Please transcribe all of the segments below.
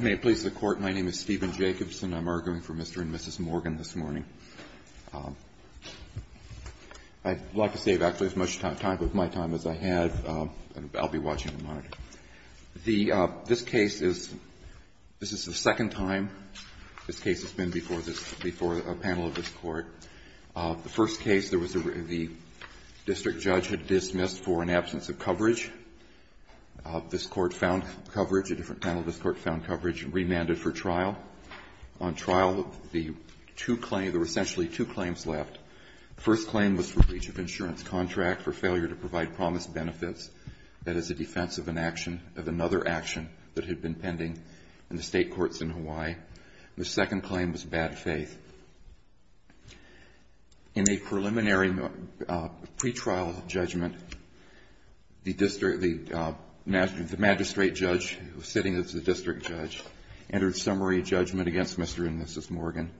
May it please the Court, my name is Stephen Jacobson. I'm arguing for Mr. and Mrs. Morgan this morning. I'd like to save, actually, as much time of my time as I have, and I'll be watching and monitoring. This case is the second time this case has been before a panel of this Court. The first case, there was a district judge had dismissed for an absence of coverage. This Court found coverage, a different panel of this Court found coverage, and remanded for trial. On trial, the two claims, there were essentially two claims left. The first claim was for breach of insurance contract for failure to provide promised benefits. That is a defense of an action, of another action that had been pending in the State courts in Hawaii. The second claim was bad faith. In a preliminary pretrial judgment, the district, the magistrate judge, who was sitting as the district judge, entered summary judgment against Mr. and Mrs. Morgan,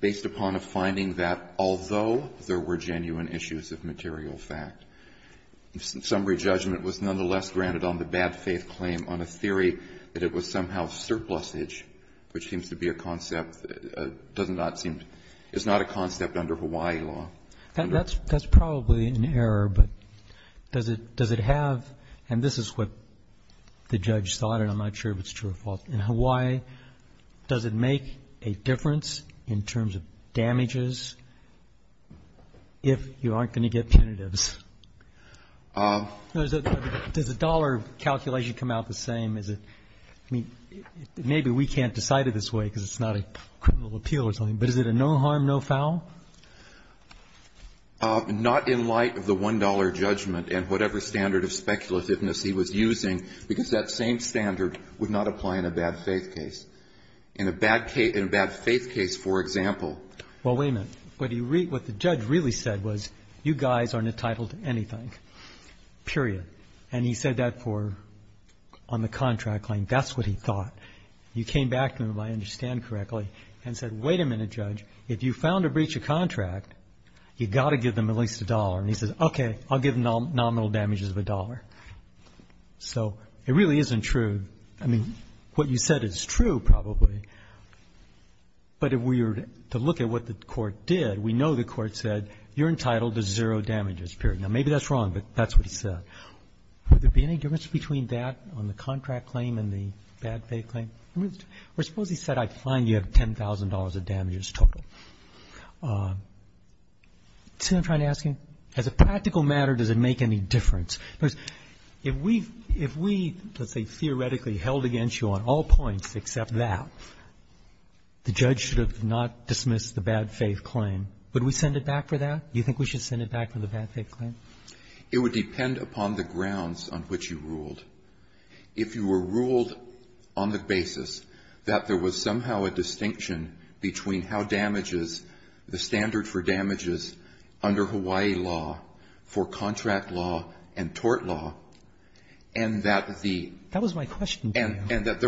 based upon a finding that, although there were genuine issues of material fact, summary judgment was nonetheless granted on the bad faith claim on a theory that it was somehow surplusage, which seems to be a concept, doesn't not seem, it's not a concept under Hawaii law. That's probably an error, but does it have, and this is what the judge thought, and I'm not sure if it's true or false, in Hawaii, does it make a difference in terms of damages if you aren't going to get punitives? Does the dollar calculation come out the same? Is it, I mean, maybe we can't decide it this way, because it's not a criminal appeal or something, but is it a no harm, no foul? Not in light of the $1 judgment and whatever standard of speculativeness he was using, because that same standard would not apply in a bad faith case. In a bad case, in a bad faith case, for example. Well, wait a minute. What the judge really said was, you guys aren't entitled to anything, period. And he said that for, on the contract claim, that's what he thought. You came back to him, if I understand correctly, and said, wait a minute, judge. If you found a breach of contract, you've got to give them at least a dollar. And he says, okay, I'll give nominal damages of a dollar. So it really isn't true. I mean, what you said is true, probably. But if we were to look at what the court did, we know the court said, you're entitled to zero damages, period. Now, maybe that's wrong, but that's what he said. Would there be any difference between that on the contract claim and the bad faith claim? Or suppose he said, I find you have $10,000 of damages total. See what I'm trying to ask you? As a practical matter, does it make any difference? Because if we, let's say, theoretically held against you on all points except that, the judge should have not dismissed the bad faith claim. Would we send it back for that? Do you think we should send it back for the bad faith claim? It would depend upon the grounds on which you ruled. If you were ruled on the basis that there was somehow a distinction between how damages the standard for damages under Hawaii law, for contract law and tort law, and that the That was my question. And that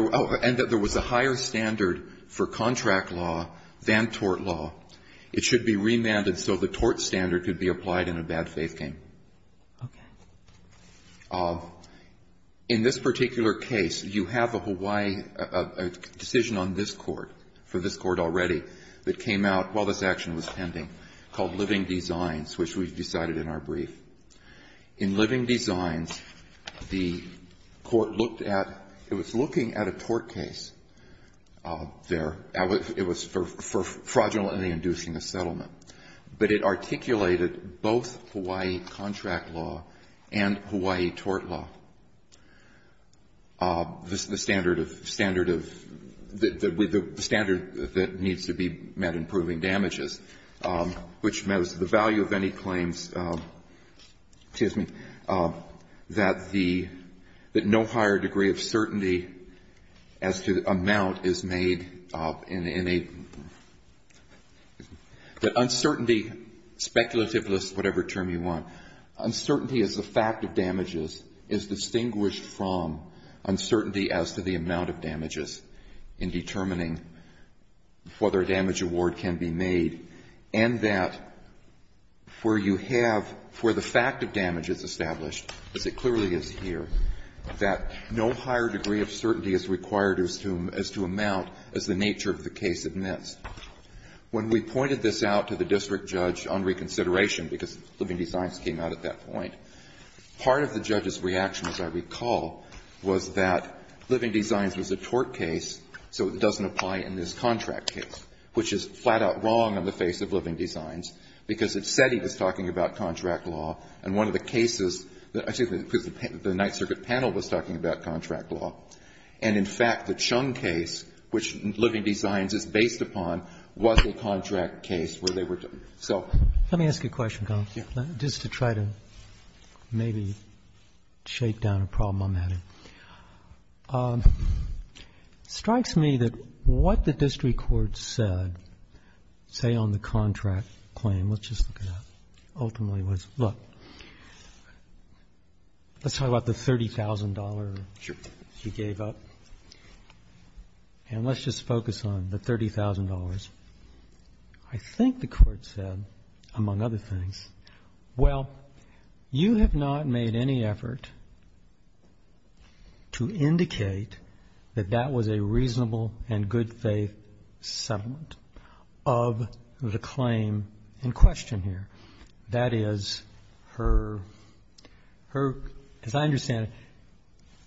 there was a higher standard for contract law than tort law. It should be remanded so the tort standard could be applied in a bad faith claim. In this particular case, you have a Hawaii decision on this Court, for this Court already, that came out while this action was pending, called Living Designs, which we've decided in our brief. In Living Designs, the Court looked at, it was looking at a tort case there. It was for fraudulently inducing a settlement. But it articulated both Hawaii contract law and Hawaii tort law. The standard of, the standard that needs to be met in proving damages, which means the value of any claims, excuse me, that the, that no higher degree of certainty as to amount is made in a, that uncertainty, speculative is whatever term you want, uncertainty as a fact of damages is distinguished from uncertainty as to the amount of damages in determining whether a damage award can be made, and that where you have, where the fact of damage is established, as it clearly is here, that no higher degree of certainty is required as to, as to amount as the nature of the case admits. When we pointed this out to the district judge on reconsideration, because Living Designs came out at that point, part of the judge's reaction, as I recall, was that Living Designs was a tort case, so it doesn't apply in this contract case, which is flat-out wrong on the face of Living Designs, because it said he was talking about contract law, and one of the cases that, excuse me, because the Ninth Circuit panel was talking about contract law, and, in fact, the Chung case, which Living Designs is based upon, was the contract case where they were, so. Roberts. Let me ask you a question, Gon, just to try to maybe shake down a problem I'm having. It strikes me that what the district court said, say, on the contract claim, let's just look at that, ultimately was, look, let's talk about the $30,000 you gave up, and let's just focus on the $30,000. I think the court said, among other things, well, you have not made any effort to indicate that that was a reasonable and good faith settlement of the claim in question. That is her, as I understand it,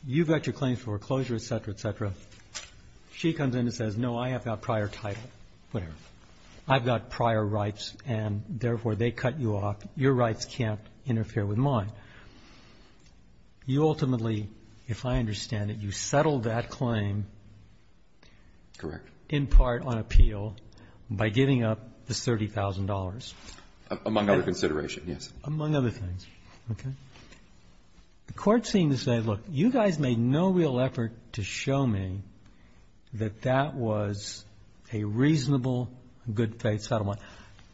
you've got your claims for foreclosure, et cetera, et cetera. She comes in and says, no, I have got prior title, whatever. I've got prior rights, and, therefore, they cut you off. Your rights can't interfere with mine. You ultimately, if I understand it, you settled that claim. Correct. In part on appeal by giving up the $30,000. Among other considerations, yes. Among other things. Okay. The court seemed to say, look, you guys made no real effort to show me that that was a reasonable, good faith settlement.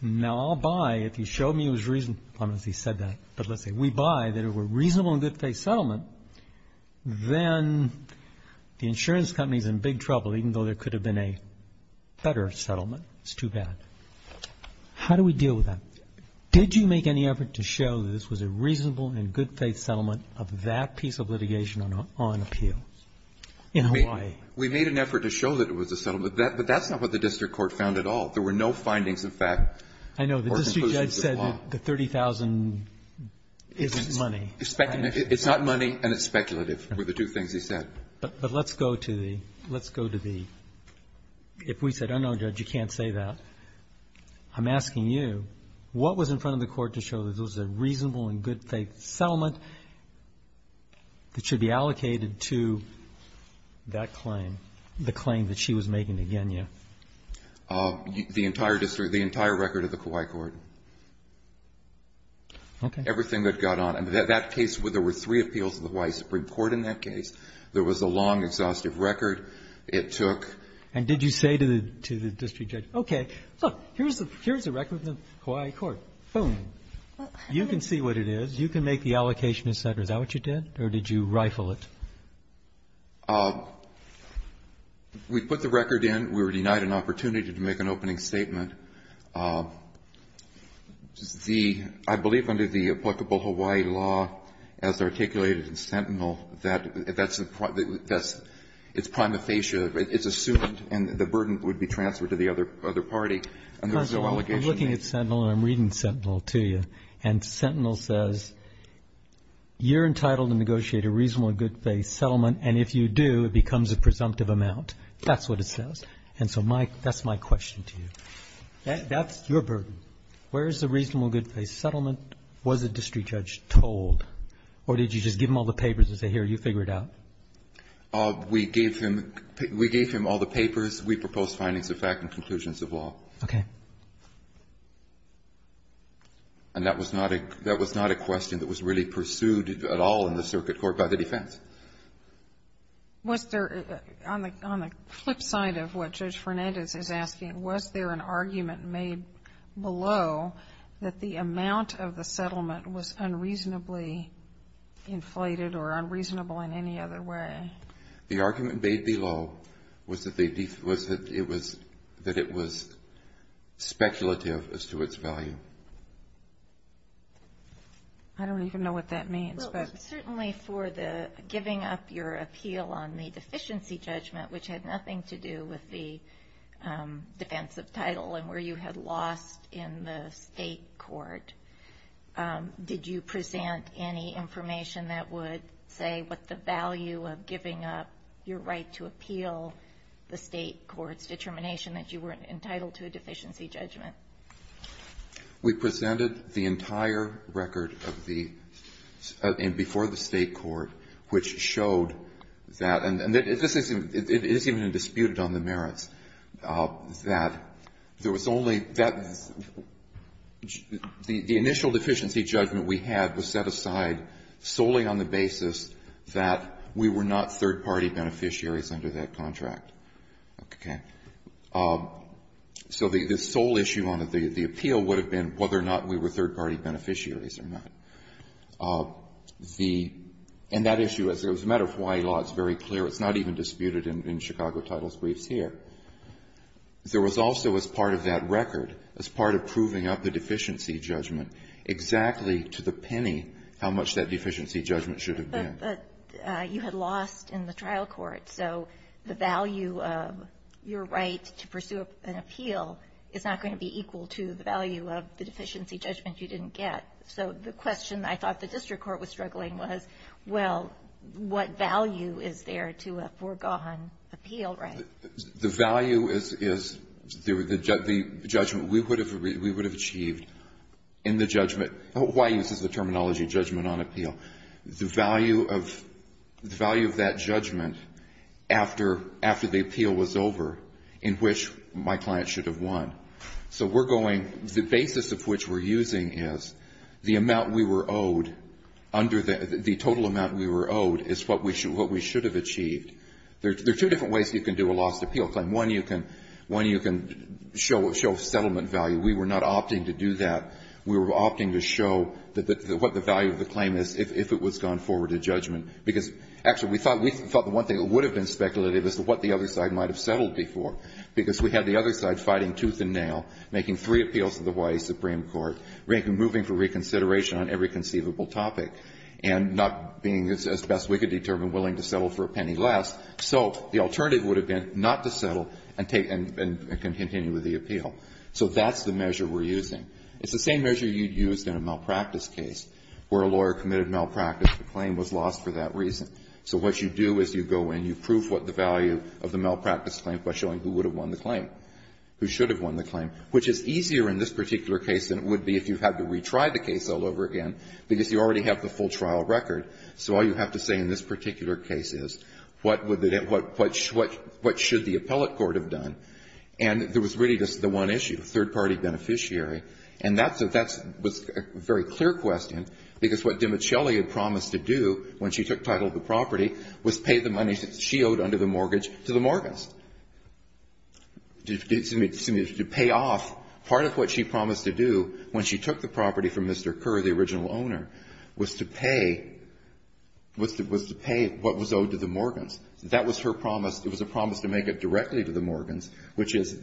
Now, I'll buy if you show me it was reasonable. I don't know if he said that, but let's see. We buy that it were a reasonable and good faith settlement. Then the insurance company is in big trouble, even though there could have been a better settlement. It's too bad. How do we deal with that? Did you make any effort to show that this was a reasonable and good faith settlement of that piece of litigation on appeal in Hawaii? We made an effort to show that it was a settlement, but that's not what the district court found at all. There were no findings, in fact, or conclusions of law. I know. The district judge said that the $30,000 isn't money. It's not money, and it's speculative, were the two things he said. But let's go to the, let's go to the, if we said, oh, no, Judge, you can't say that, I'm asking you, what was in front of the court to show that this was a reasonable and good faith settlement that should be allocated to that claim, the claim that she was making to Kenya? The entire district, the entire record of the Kauai court. Okay. Everything that got on. In that case, there were three appeals in the Hawaii Supreme Court in that case. There was a long, exhaustive record. It took ---- And did you say to the district judge, okay, look, here's the record of the Kauai court, boom. You can see what it is. You can make the allocation, et cetera. Is that what you did, or did you rifle it? We put the record in. We were denied an opportunity to make an opening statement. The, I believe under the applicable Hawaii law, as articulated in Sentinel, that's the, it's prima facie, it's assumed, and the burden would be transferred to the other party. And there was no allegation made. I'm looking at Sentinel, and I'm reading Sentinel to you, and Sentinel says, you're entitled to negotiate a reasonable and good faith settlement, and if you do, it becomes a presumptive amount. That's what it says. And so my, that's my question to you. That's your burden. Where is the reasonable and good faith settlement? Was it the district judge told, or did you just give him all the papers and say, here, you figure it out? We gave him, we gave him all the papers. We proposed findings of fact and conclusions of law. Okay. And that was not a, that was not a question that was really pursued at all in the circuit court by the defense. Was there, on the flip side of what Judge Fernandez is asking, was there an argument made below that the amount of the settlement was unreasonably inflated or unreasonable in any other way? The argument made below was that it was speculative as to its value. I don't even know what that means. Certainly for the giving up your appeal on the deficiency judgment, which had nothing to do with the defensive title and where you had lost in the state court, did you present any information that would say what the value of giving up your right to appeal the state court's determination that you weren't entitled to a deficiency judgment? We presented the entire record of the, and before the state court, which showed that, and this isn't, it isn't even disputed on the merits, that there was only, that the initial deficiency judgment we had was set aside solely on the basis that we were not third-party beneficiaries under that contract. Okay. So the sole issue on the appeal would have been whether or not we were third-party beneficiaries or not. The, and that issue, as it was a matter of Hawaii law, it's very clear. It's not even disputed in Chicago title briefs here. There was also, as part of that record, as part of proving up the deficiency judgment, exactly to the penny how much that deficiency judgment should have been. But you had lost in the trial court. So the value of your right to pursue an appeal is not going to be equal to the value of the deficiency judgment you didn't get. So the question I thought the district court was struggling was, well, what value is there to a foregone appeal right? The value is the judgment we would have achieved in the judgment. Hawaii uses the terminology judgment on appeal. The value of that judgment after the appeal was over, in which my client should have won. So we're going, the basis of which we're using is the amount we were owed, the total amount we were owed is what we should have achieved. There are two different ways you can do a lost appeal claim. One, you can show settlement value. We were not opting to do that. We were opting to show what the value of the claim is if it was gone forward to judgment. Because, actually, we thought the one thing that would have been speculative is what the other side might have settled before. Because we had the other side fighting tooth and nail, making three appeals to the Hawaii Supreme Court, moving for reconsideration on every conceivable topic, and not being as best we could determine willing to settle for a penny less. So the alternative would have been not to settle and continue with the appeal. So that's the measure we're using. It's the same measure you'd use in a malpractice case, where a lawyer committed malpractice, the claim was lost for that reason. So what you do is you go in, you prove what the value of the malpractice claim by showing who would have won the claim, who should have won the claim, which is easier in this particular case than it would be if you had to retry the case all over again, because you already have the full trial record. So all you have to say in this particular case is what should the appellate court have done. And there was really just the one issue, third-party beneficiary. And that's a very clear question, because what DiMichele had promised to do when she took title of the property was pay the money she owed under the mortgage to the Morgans. To pay off part of what she promised to do when she took the property from Mr. Kerr, the original owner, was to pay what was owed to the Morgans. That was her promise. It was a promise to make it directly to the Morgans, which is,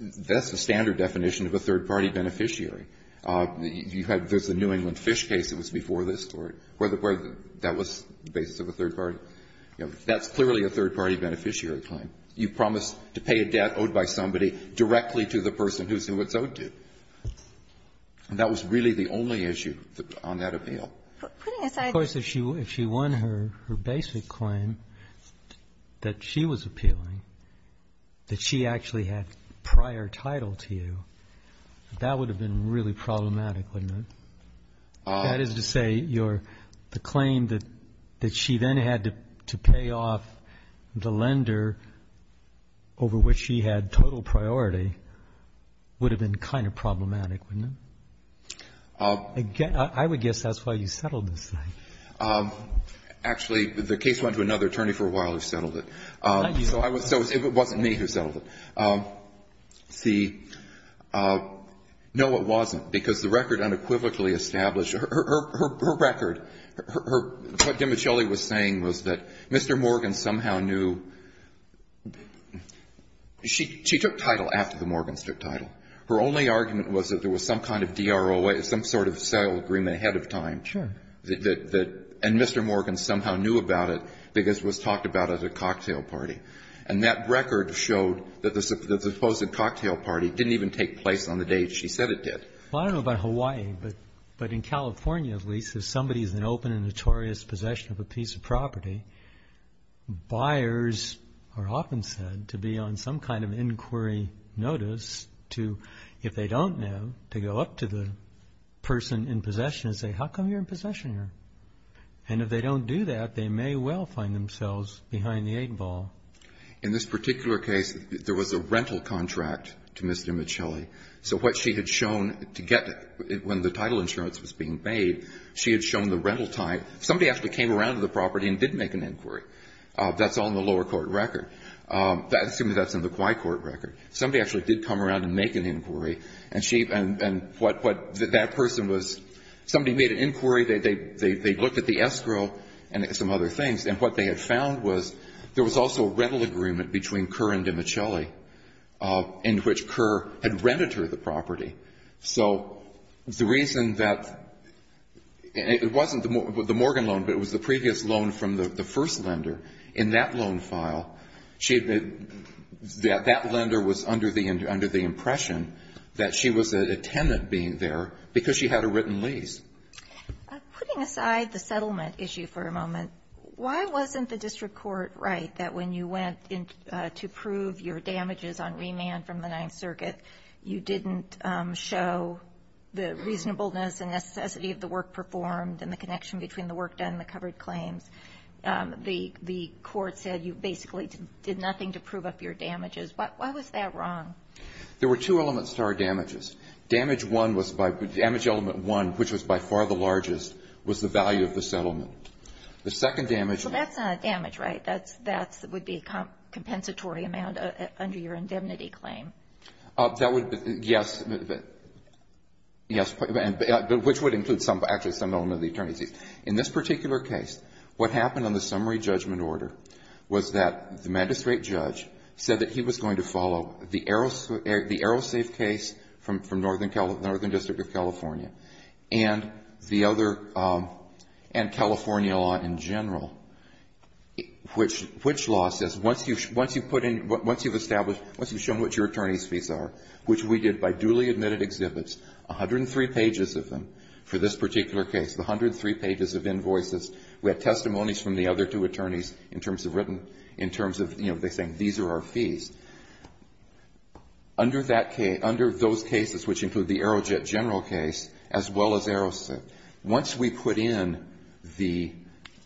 that's the standard definition of a third-party beneficiary. There's the New England Fish case that was before this Court, where that was the basis of a third-party. That's clearly a third-party beneficiary claim. You promised to pay a debt owed by somebody directly to the person who it's owed And that was really the only issue on that appeal. Putting aside Of course, if she won her basic claim that she was appealing, that she actually had prior title to you, that would have been really problematic, wouldn't it? That is to say, the claim that she then had to pay off the lender over which she had total priority would have been kind of problematic, wouldn't it? I would guess that's why you settled this thing. Actually, the case went to another attorney for a while who settled it. Thank you. So it wasn't me who settled it. See, no, it wasn't, because the record unequivocally established her record, what DiMichele was saying was that Mr. Morgans somehow knew. She took title after the Morgans took title. Her only argument was that there was some kind of DROA, some sort of sale agreement ahead of time. Sure. And Mr. Morgans somehow knew about it because it was talked about as a cocktail party. And that record showed that the supposed cocktail party didn't even take place on the day she said it did. Well, I don't know about Hawaii, but in California, at least, if somebody is in open and notorious possession of a piece of property, buyers are often said to be on some kind of inquiry notice to, if they don't know, to go up to the person in possession and say, how come you're in possession here? And if they don't do that, they may well find themselves behind the eight ball. In this particular case, there was a rental contract to Ms. DiMichele. So what she had shown to get when the title insurance was being paid, she had shown the rental type. Somebody actually came around to the property and did make an inquiry. That's all in the lower court record. Excuse me, that's in the Hawaii court record. Somebody actually did come around and make an inquiry. And what that person was, somebody made an inquiry. They looked at the escrow and some other things. And what they had found was there was also a rental agreement between Kerr and DiMichele, in which Kerr had rented her the property. So the reason that it wasn't the Morgan loan, but it was the previous loan from the first lender in that loan file, that lender was under the impression that she was a tenant being there because she had a written lease. Putting aside the settlement issue for a moment, why wasn't the district court right that when you went to prove your damages on remand from the Ninth Circuit, you didn't show the reasonableness and necessity of the work performed and the connection between the work done and the covered claims? The court said you basically did nothing to prove up your damages. Why was that wrong? There were two elements to our damages. Damage element one, which was by far the largest, was the value of the settlement. So that's not a damage, right? That would be a compensatory amount under your indemnity claim. Yes, which would include actually some element of the attorney's lease. In this particular case, what happened on the summary judgment order was that the magistrate judge said that he was going to follow the AeroSafe case from Northern District of California and California law in general, which law says once you've established, once you've shown what your attorney's fees are, which we did by duly admitted exhibits, 103 pages of them for this particular case, the 103 pages of invoices. We had testimonies from the other two attorneys in terms of written, in terms of, you know, they're saying these are our fees. Under those cases, which include the AeroJet general case, as well as AeroSafe, once we put in the,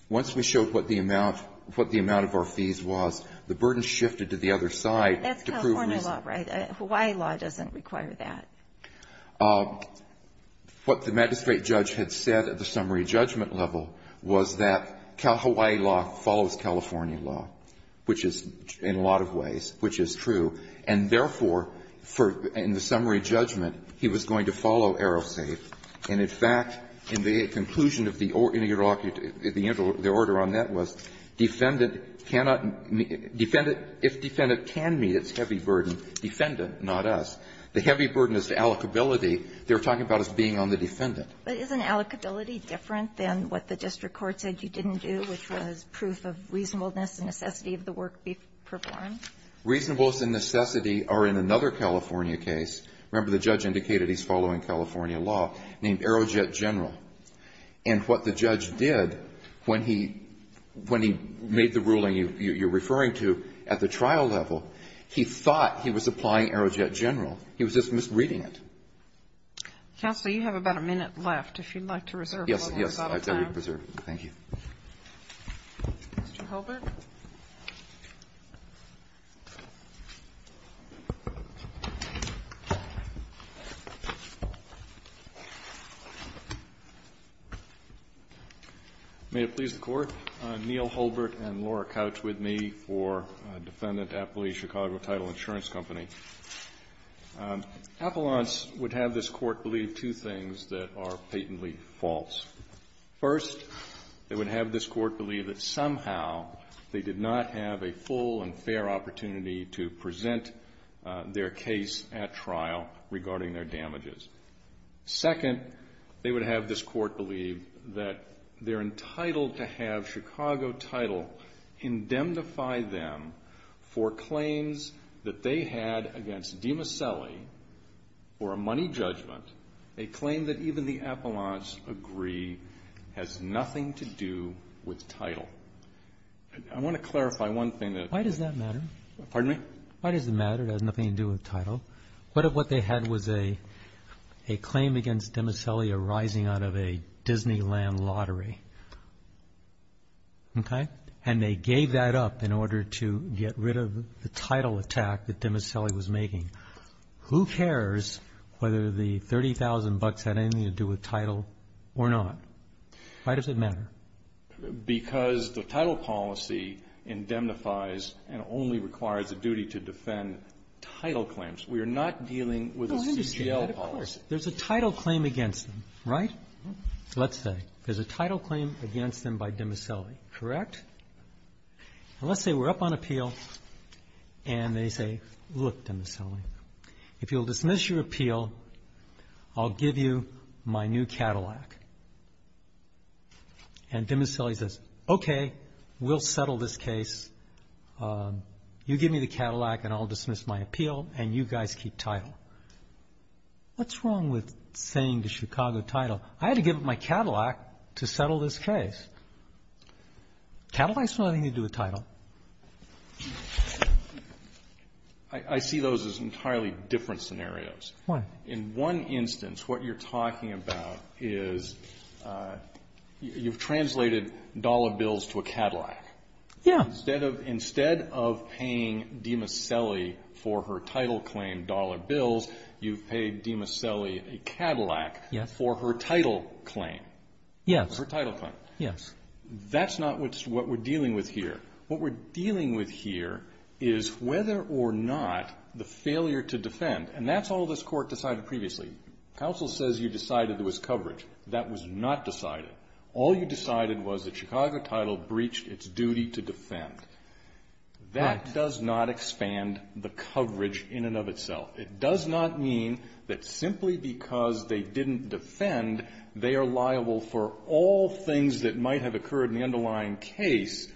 once we showed what the amount of our fees was, the burden shifted to the other side. That's California law, right? Hawaii law doesn't require that. What the magistrate judge had said at the summary judgment level was that Hawaii law follows California law, which is, in a lot of ways, which is true, and therefore, in the summary judgment, he was going to follow AeroSafe. And, in fact, in the conclusion of the order on that was defendant cannot meet, defendant, if defendant can meet its heavy burden, defendant, not us. The heavy burden is the allocability. They were talking about us being on the defendant. But isn't allocability different than what the district court said you didn't do, which was proof of reasonableness and necessity of the work performed? Reasonableness and necessity are in another California case. Remember, the judge indicated he's following California law, named AeroJet general. And what the judge did when he made the ruling you're referring to at the trial level, he thought he was applying AeroJet general. He was just misreading it. Counsel, you have about a minute left, if you'd like to reserve a little more time. Alito, yes, I'd like to reserve. Thank you. Mr. Holbert. May it please the Court. Neil Holbert and Laura Couch with me for Defendant Appellee, Chicago Title Insurance Company. Appellants would have this Court believe two things that are patently false. First, they would have this Court believe that somehow they did not have a full and fair opportunity to present their case at trial regarding their damages. Second, they would have this Court believe that they're entitled to have Chicago Title indemnify them for claims that they had against DiMasselli for a money judgment, a claim that even the appellants agree has nothing to do with title. I want to clarify one thing. Why does that matter? Pardon me? Why does it matter? It has nothing to do with title. What they had was a claim against DiMasselli arising out of a Disneyland lottery. Okay? And they gave that up in order to get rid of the title attack that DiMasselli was making. Who cares whether the $30,000 had anything to do with title or not? Why does it matter? Because the title policy indemnifies and only requires a duty to defend title claims. We are not dealing with a CGL policy. Go ahead and dispute that, of course. There's a title claim against them, right? Let's say. There's a title claim against them by DiMasselli, correct? And let's say we're up on appeal and they say, look, DiMasselli, if you'll dismiss your appeal, I'll give you my new Cadillac. And DiMasselli says, okay, we'll settle this case. You give me the Cadillac and I'll dismiss my appeal and you guys keep title. What's wrong with saying to Chicago title, I had to give up my Cadillac to settle this case? Cadillacs have nothing to do with title. I see those as entirely different scenarios. In one instance, what you're talking about is you've translated dollar bills to a Cadillac. Yeah. Instead of paying DiMasselli for her title claim dollar bills, you've paid DiMasselli a Cadillac for her title claim. Yes. That's not what we're dealing with here. What we're dealing with here is whether or not the failure to defend, and that's all this Court decided previously. Counsel says you decided there was coverage. That was not decided. All you decided was that Chicago title breached its duty to defend. That does not expand the coverage in and of itself. It does not mean that simply because they didn't defend, they are liable for all things that might have occurred in the underlying case.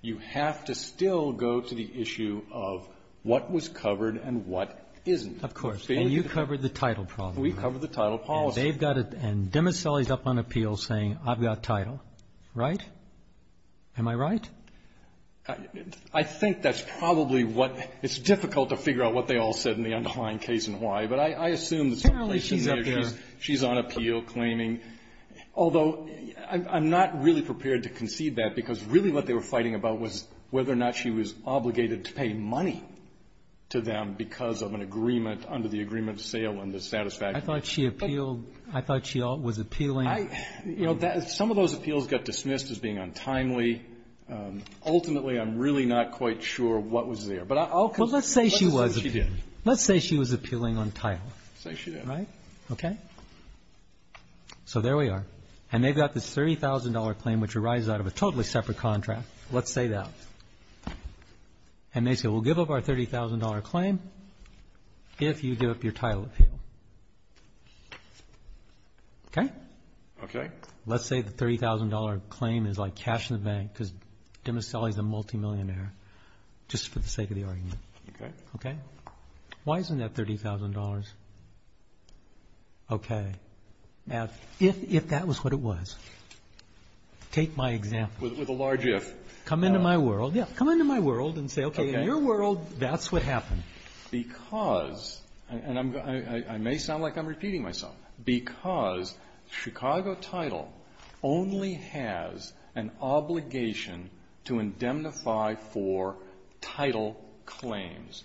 You have to still go to the issue of what was covered and what isn't. Of course. And you covered the title problem. We covered the title policy. And DiMasselli's up on appeal saying I've got title. Right? Am I right? I think that's probably what — it's difficult to figure out what they all said in the underlying case and why. But I assume that someplace in there she's on appeal claiming — although, I'm not really prepared to concede that, because really what they were fighting about was whether or not she was obligated to pay money to them because of an agreement under the agreement of sale and the satisfaction. I thought she appealed. I thought she was appealing. Some of those appeals got dismissed as being untimely. Ultimately, I'm really not quite sure what was there. But I'll — Well, let's say she was appealing. Let's assume she did. Let's say she was appealing on title. Let's say she did. Right? Okay? So there we are. And they've got this $30,000 claim, which arises out of a totally separate contract. Let's say that. And they say we'll give up our $30,000 claim if you give up your title appeal. Okay? Okay. Let's say the $30,000 claim is like cash in the bank because Demis Sali is a multimillionaire, just for the sake of the argument. Okay? Okay? Why isn't that $30,000? Okay. Now, if that was what it was, take my example. With a large if. Come into my world. Yeah, come into my world and say, okay, in your world, that's what happened. Because, and I may sound like I'm repeating myself. Because Chicago title only has an obligation to indemnify for title claims.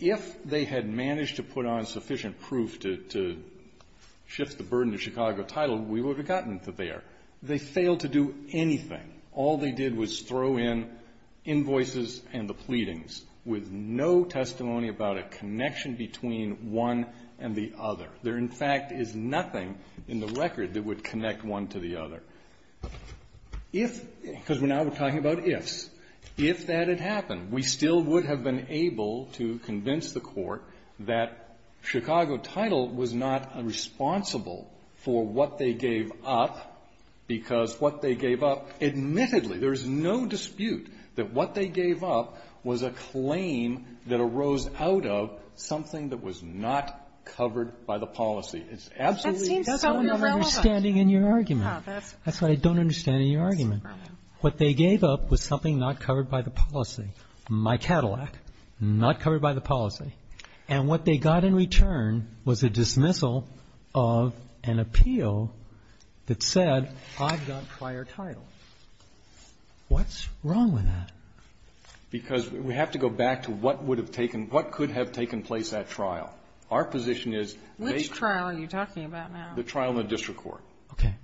If they had managed to put on sufficient proof to shift the burden to Chicago title, we would have gotten to there. They failed to do anything. All they did was throw in invoices and the pleadings with no testimony about a connection between one and the other. There, in fact, is nothing in the record that would connect one to the other. If, because now we're talking about ifs, if that had happened, we still would have been able to convince the Court that Chicago title was not responsible for what they gave up, because what they gave up, admittedly, there's no dispute that what they gave up was a claim that arose out of something that was not covered by the policy. It's absolutely not. That seems so irrelevant. That's what I'm understanding in your argument. That's what I don't understand in your argument. What they gave up was something not covered by the policy. My Cadillac, not covered by the policy. And what they got in return was a dismissal of an appeal that said, I've got prior title. What's wrong with that? Because we have to go back to what would have taken, what could have taken place at trial. Our position is they ---- Which trial are you talking about now? The trial in the district court. Okay.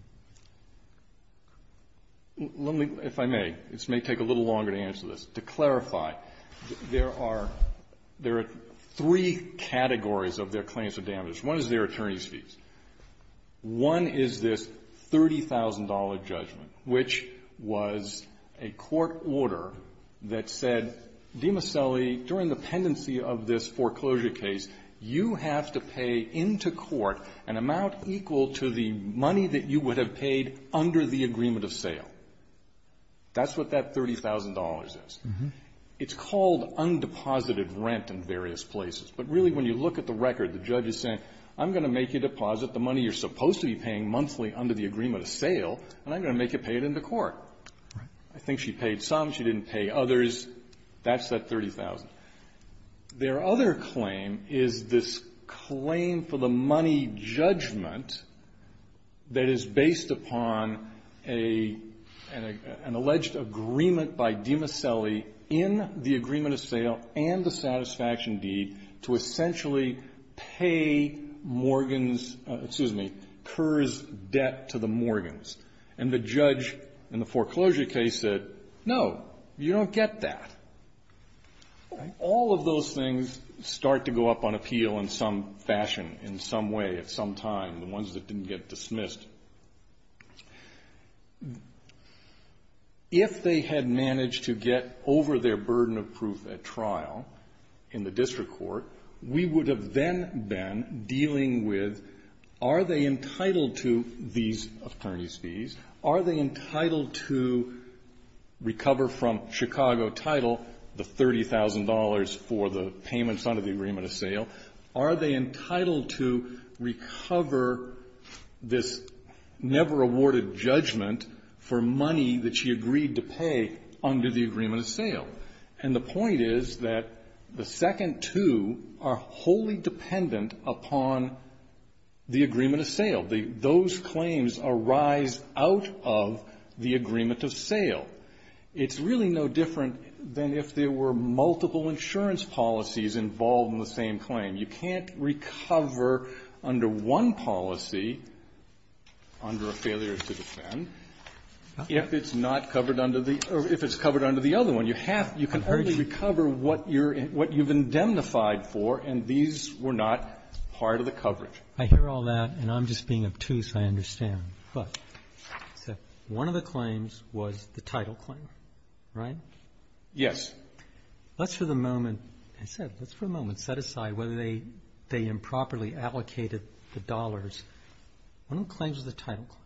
Let me, if I may, this may take a little longer to answer this. To clarify, there are three categories of their claims of damage. One is their attorney's fees. One is this $30,000 judgment, which was a court order that said, Demaselli, during the pendency of this foreclosure case, you have to pay into court an amount equal to the money that you would have paid under the agreement of sale. That's what that $30,000 is. It's called undeposited rent in various places. But really, when you look at the record, the judge is saying, I'm going to make you deposit the money you're supposed to be paying monthly under the agreement of sale, and I'm going to make you pay it into court. Right. I think she paid some. She didn't pay others. That's that $30,000. Their other claim is this claim for the money judgment that is based upon a ---- an agreement of sale and the satisfaction deed to essentially pay Morgan's ---- excuse me, Kerr's debt to the Morgans. And the judge in the foreclosure case said, no, you don't get that. All of those things start to go up on appeal in some fashion, in some way, at some time, the ones that didn't get dismissed. If they had managed to get over their burden of proof at trial in the district court, we would have then been dealing with, are they entitled to these attorney's fees? Are they entitled to recover from Chicago title the $30,000 for the payments under the agreement of sale? Are they entitled to recover this never-awarded judgment for money that she agreed to pay under the agreement of sale? And the point is that the second two are wholly dependent upon the agreement of sale. It's really no different than if there were multiple insurance policies involved in the same claim. You can't recover under one policy under a failure to defend if it's not covered under the ---- or if it's covered under the other one. You have to ---- you can only recover what you're ---- what you've indemnified for, and these were not part of the coverage. I hear all that, and I'm just being obtuse, I understand. But one of the claims was the title claim, right? Yes. Let's for the moment, I said, let's for the moment set aside whether they improperly allocated the dollars. One of the claims was the title claim.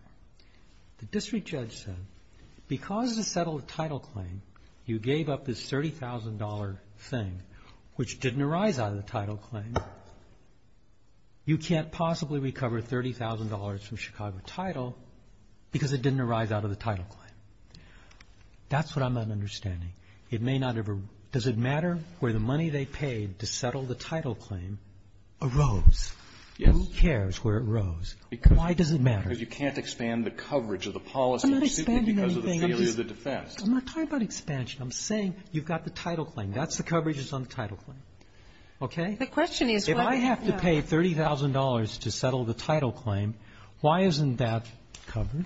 The district judge said, because of the settled title claim, you gave up this $30,000 thing, which didn't arise out of the title claim, you can't possibly recover $30,000 from Chicago title because it didn't arise out of the title claim. That's what I'm not understanding. It may not ever ---- does it matter where the money they paid to settle the title claim arose? Yes. Who cares where it rose? Why does it matter? Because you can't expand the coverage of the policy ---- I'm not expanding anything. ---- because of the failure of the defense. I'm not talking about expansion. I'm saying you've got the title claim. That's the coverages on the title claim. Okay? The question is what ---- If I have to pay $30,000 to settle the title claim, why isn't that covered?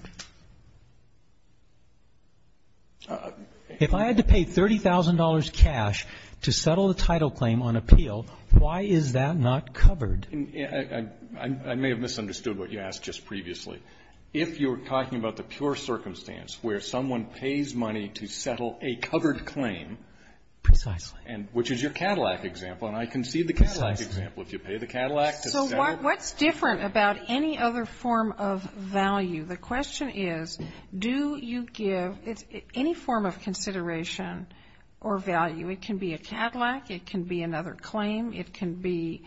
If I had to pay $30,000 cash to settle the title claim on appeal, why is that not covered? I may have misunderstood what you asked just previously. If you're talking about the pure circumstance where someone pays money to settle a covered claim ---- Precisely. ---- which is your Cadillac example, and I concede the Cadillac example. If you pay the Cadillac to settle ---- So what's different about any other form of value? The question is do you give any form of consideration or value? It can be a Cadillac. It can be another claim. It can be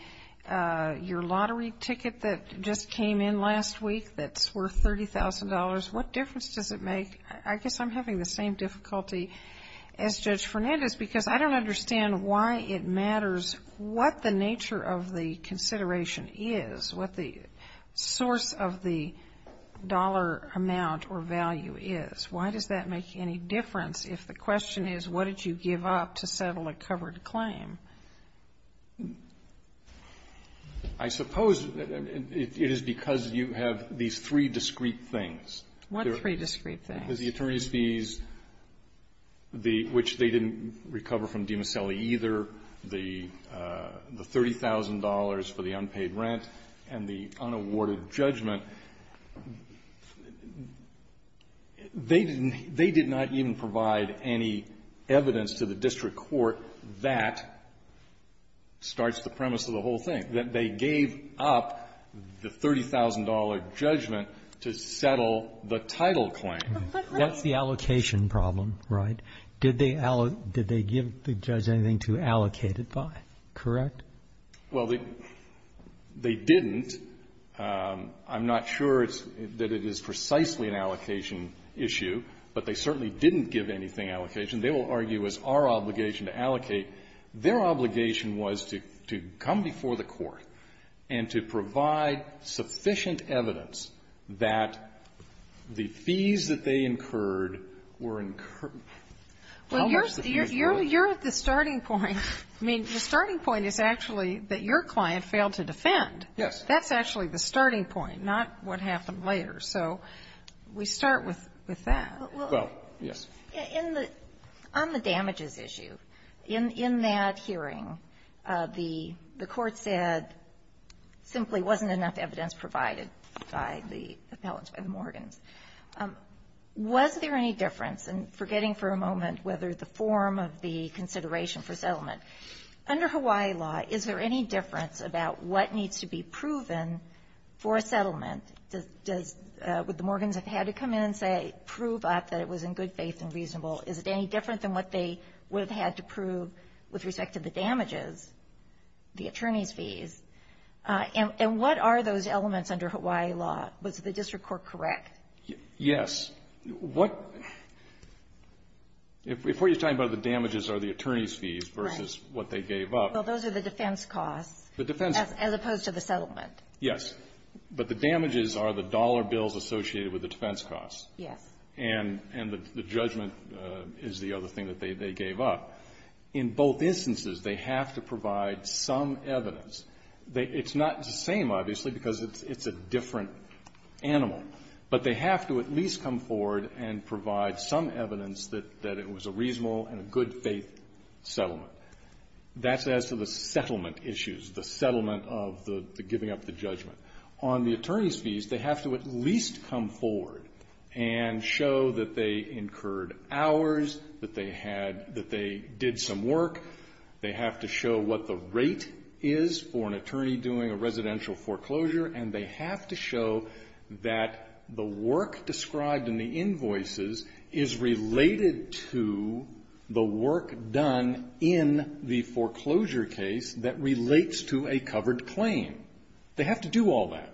your lottery ticket that just came in last week that's worth $30,000. What difference does it make? I guess I'm having the same difficulty as Judge Fernandez because I don't understand why it matters what the nature of the consideration is, what the source of the dollar amount or value is. Why does that make any difference if the question is what did you give up to I suppose it is because you have these three discrete things. What three discrete things? The attorneys' fees, the ---- which they didn't recover from DiMasselli either, the $30,000 for the unpaid rent and the unawarded judgment. They didn't ---- they did not even provide any evidence to the district court that starts the premise of the whole thing, that they gave up the $30,000 judgment to settle the title claim. That's the allocation problem, right? Did they give the judge anything to allocate it by, correct? Well, they didn't. I'm not sure that it is precisely an allocation issue, but they certainly didn't give anything allocation. They will argue it was our obligation to allocate. Their obligation was to come before the court and to provide sufficient evidence that the fees that they incurred were incurred. Well, you're at the starting point. I mean, the starting point is actually that your client failed to defend. Yes. That's actually the starting point, not what happened later. So we start with that. Well, yes. In the ---- on the damages issue, in that hearing, the court said simply wasn't enough evidence provided by the appellants, by the Morgans. Was there any difference, and forgetting for a moment whether the form of the consideration for settlement, under Hawaii law, is there any difference about what needs to be proven for a settlement? Would the Morgans have had to come in and say prove up that it was in good faith and reasonable? Is it any different than what they would have had to prove with respect to the damages, the attorney's fees? And what are those elements under Hawaii law? Was the district court correct? Yes. What ---- if what you're talking about, the damages are the attorney's fees versus what they gave up ---- Well, those are the defense costs. The defense ---- As opposed to the settlement. Yes. But the damages are the dollar bills associated with the defense costs. Yes. And the judgment is the other thing that they gave up. In both instances, they have to provide some evidence. It's not the same, obviously, because it's a different animal. But they have to at least come forward and provide some evidence that it was a reasonable and a good faith settlement. But that's as to the settlement issues, the settlement of the giving up the judgment. On the attorney's fees, they have to at least come forward and show that they incurred hours, that they had ---- that they did some work. They have to show what the rate is for an attorney doing a residential foreclosure. And they have to show that the work described in the invoices is related to the work done in the foreclosure case that relates to a covered claim. They have to do all that.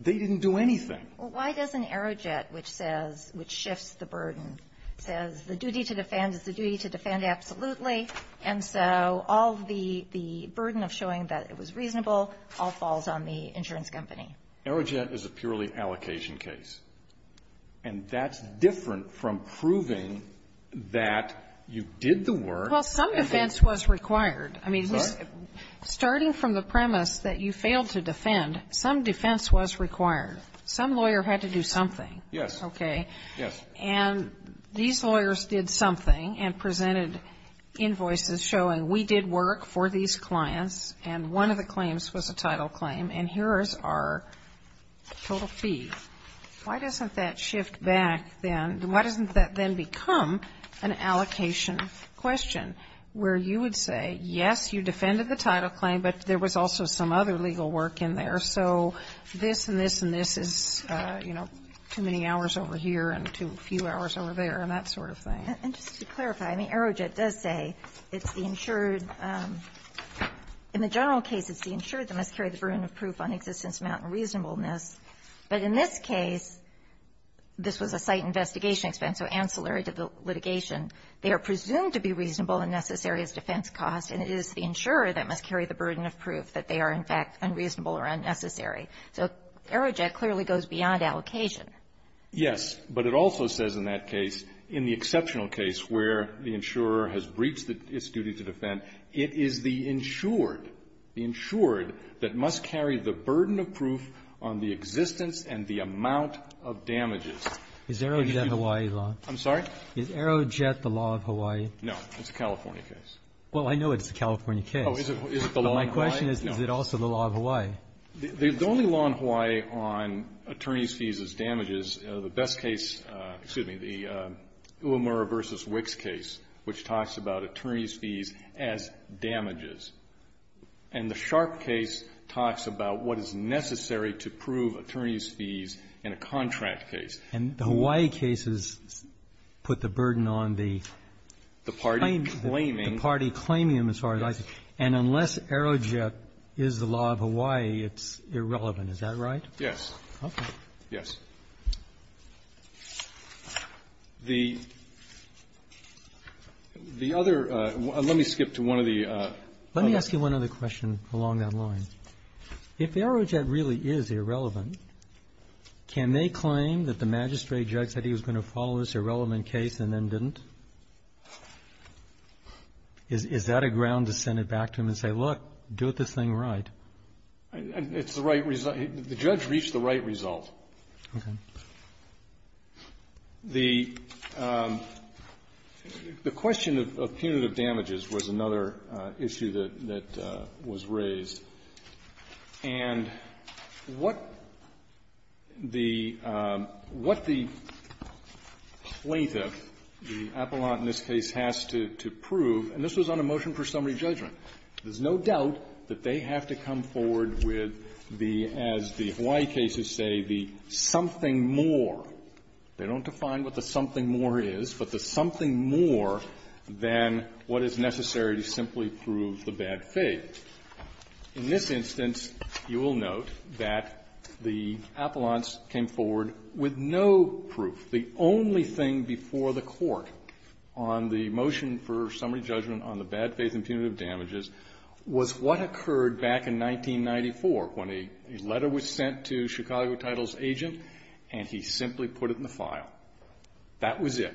They didn't do anything. Well, why doesn't Aerojet, which says ---- which shifts the burden, says the duty to defend is the duty to defend absolutely, and so all the burden of showing that it was reasonable all falls on the insurance company? Aerojet is a purely allocation case. And that's different from proving that you did the work. Well, some defense was required. I mean, starting from the premise that you failed to defend, some defense was required. Some lawyer had to do something. Yes. Okay? Yes. And these lawyers did something and presented invoices showing we did work for these clients, and one of the claims was a title claim, and here is our total fee. Why doesn't that shift back then? Why doesn't that then become an allocation question where you would say, yes, you defended the title claim, but there was also some other legal work in there, so this and this and this is, you know, too many hours over here and too few hours over there, and that sort of thing. And just to clarify, I mean, Aerojet does say it's the insured ---- in the general case, it's the insured that must carry the burden of proof on existence, amount, and reasonableness, but in this case, this was a site investigation expense, so ancillary to the litigation, they are presumed to be reasonable and necessary as defense costs, and it is the insurer that must carry the burden of proof that they are, in fact, unreasonable or unnecessary. So Aerojet clearly goes beyond allocation. Yes, but it also says in that case, in the exceptional case where the insurer has breached its duty to defend, it is the insured, the insured that must carry the burden of proof on the existence and the amount of damages. Is Aerojet a Hawaii law? I'm sorry? Is Aerojet the law of Hawaii? No. It's a California case. Well, I know it's a California case. Oh, is it the law in Hawaii? My question is, is it also the law of Hawaii? The only law in Hawaii on attorney's fees as damages, the best case, excuse me, the Uemura v. Wicks case, which talks about attorney's fees as damages. And the Sharp case talks about what is necessary to prove attorney's fees in a contract case. And the Hawaii case has put the burden on the claim to the party claiming them as far as I can see. And unless Aerojet is the law of Hawaii, it's irrelevant. Is that right? Yes. Okay. The other one, let me skip to one of the other cases. Let me ask you one other question along that line. If Aerojet really is irrelevant, can they claim that the magistrate judge said he was going to follow this irrelevant case and then didn't? Is that a ground to send it back to him and say, look, do this thing right? It's the right result. The judge reached the right result. Okay. The question of punitive damages was another issue that was raised. And what the plaintiff, the appellant in this case, has to prove, and this was on a motion for summary judgment, there's no doubt that they have to come forward with the, as the Hawaii cases say, the something more. They don't define what the something more is, but the something more than what is necessary to simply prove the bad faith. In this instance, you will note that the appellants came forward with no proof. The only thing before the Court on the motion for summary judgment on the bad faith and punitive damages was what occurred back in 1994 when a letter was sent to Chicago Title's agent and he simply put it in the file. That was it.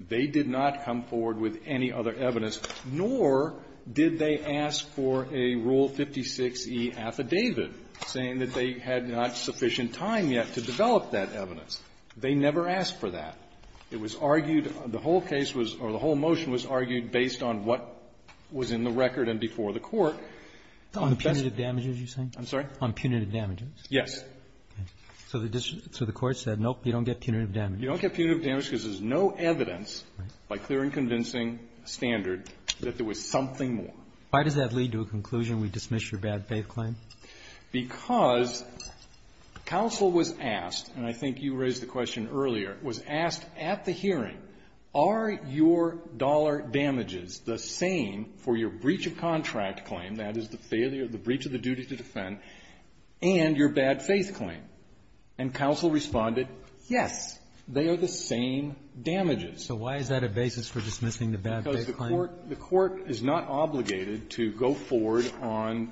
They did not come forward with any other evidence, nor did they ask for a Rule 56E affidavit saying that they had not sufficient time yet to develop that evidence. They never asked for that. It was argued, the whole case was, or the whole motion was argued based on what was in the record and before the Court. On the punitive damages, you're saying? I'm sorry? On punitive damages. Yes. So the court said, nope, you don't get punitive damages. You don't get punitive damages because there's no evidence, by clear and convincing standard, that there was something more. Why does that lead to a conclusion we dismiss your bad faith claim? Because counsel was asked, and I think you raised the question earlier, was asked at the hearing, are your dollar damages the same for your breach of contract claim, that is the failure, the breach of the duty to defend, and your bad faith claim? And counsel responded, yes, they are the same damages. So why is that a basis for dismissing the bad faith claim? Because the court is not obligated to go forward on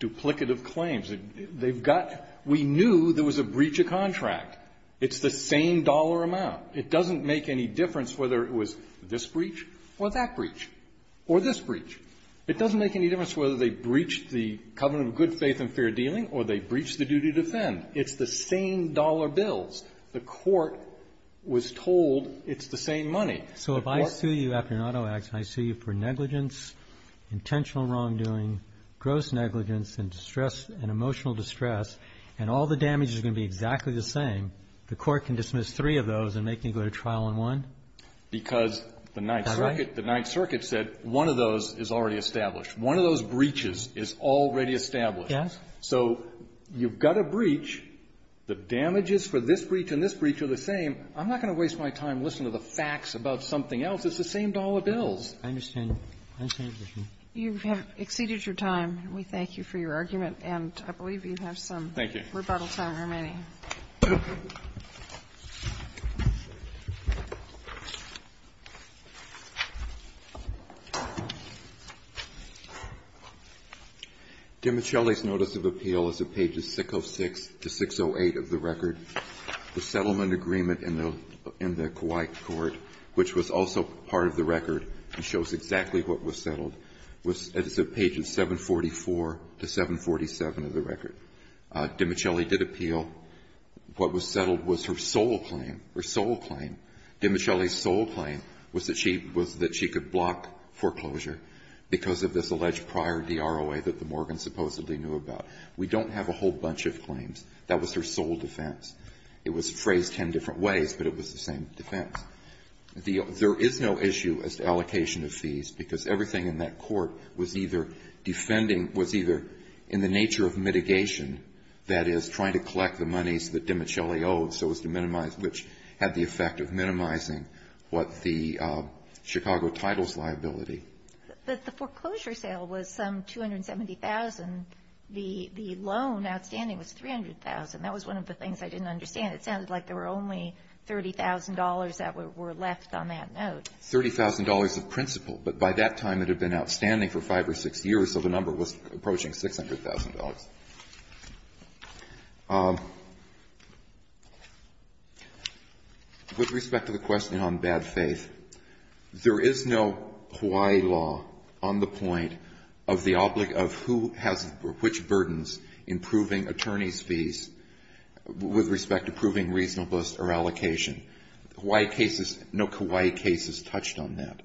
duplicative claims. They've got we knew there was a breach of contract. It's the same dollar amount. It doesn't make any difference whether it was this breach or that breach or this breach. It doesn't make any difference whether they breached the covenant of good faith and fair dealing or they breached the duty to defend. It's the same dollar bills. The court was told it's the same money. So if I sue you after an auto accident, I sue you for negligence, intentional wrongdoing, gross negligence, and distress, and emotional distress, and all the same, the court can dismiss three of those and make me go to trial on one? Because the Ninth Circuit, the Ninth Circuit said one of those is already established. One of those breaches is already established. Yes. So you've got a breach. The damages for this breach and this breach are the same. I'm not going to waste my time listening to the facts about something else. It's the same dollar bills. I understand. I understand. You have exceeded your time. We thank you for your argument. And I believe you have some rebuttal time remaining. Thank you. Thank you. Dimichelli's notice of appeal is at pages 606 to 608 of the record. The settlement agreement in the Kauai court, which was also part of the record and shows exactly what was settled, was at pages 744 to 747 of the record. Dimichelli did appeal. What was settled was her sole claim, her sole claim. Dimichelli's sole claim was that she could block foreclosure because of this alleged prior DROA that the Morgans supposedly knew about. We don't have a whole bunch of claims. That was her sole defense. It was phrased ten different ways, but it was the same defense. There is no issue as to allocation of fees because everything in that court was either in the nature of mitigation, that is, trying to collect the monies that Dimichelli owes so as to minimize, which had the effect of minimizing what the Chicago title's liability. But the foreclosure sale was some $270,000. The loan outstanding was $300,000. That was one of the things I didn't understand. It sounded like there were only $30,000 that were left on that note. $30,000 of principal. But by that time, it had been outstanding for five or six years, so the number was approaching $600,000. With respect to the question on bad faith, there is no Hawaii law on the point of who has which burdens in proving attorney's fees with respect to proving reasonableness or allocation. Hawaii cases, no Hawaii cases touched on that.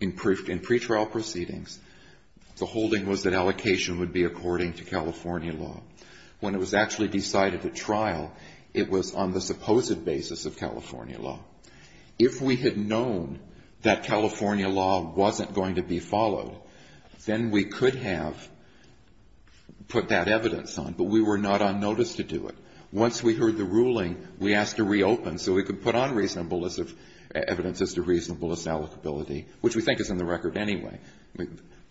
In pretrial proceedings, the holding was that allocation would be according to California law. When it was actually decided at trial, it was on the supposed basis of California law. If we had known that California law wasn't going to be followed, then we could have put that evidence on, but we were not on notice to do it. Once we heard the ruling, we asked to reopen so we could put on evidence as to what happened. And I think it's in the record anyway.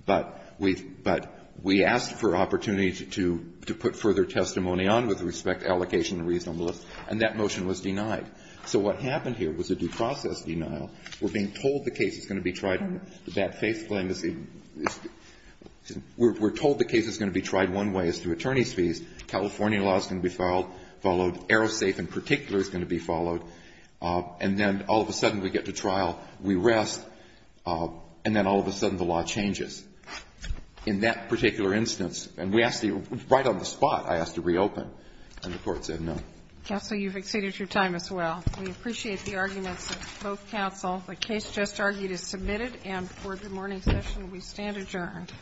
But we asked for opportunity to put further testimony on with respect to allocation and reasonableness, and that motion was denied. So what happened here was a due process denial. We're being told the case is going to be tried on bad faith claim. We're told the case is going to be tried one way is through attorney's fees. California law is going to be followed. Aerosafe in particular is going to be followed. And then all of a sudden, we get to trial. We rest. And then all of a sudden, the law changes. In that particular instance, and we asked to be right on the spot, I asked to reopen. And the Court said no. Counsel, you've exceeded your time as well. We appreciate the arguments of both counsel. The case just argued is submitted, and for the morning session, we stand adjourned.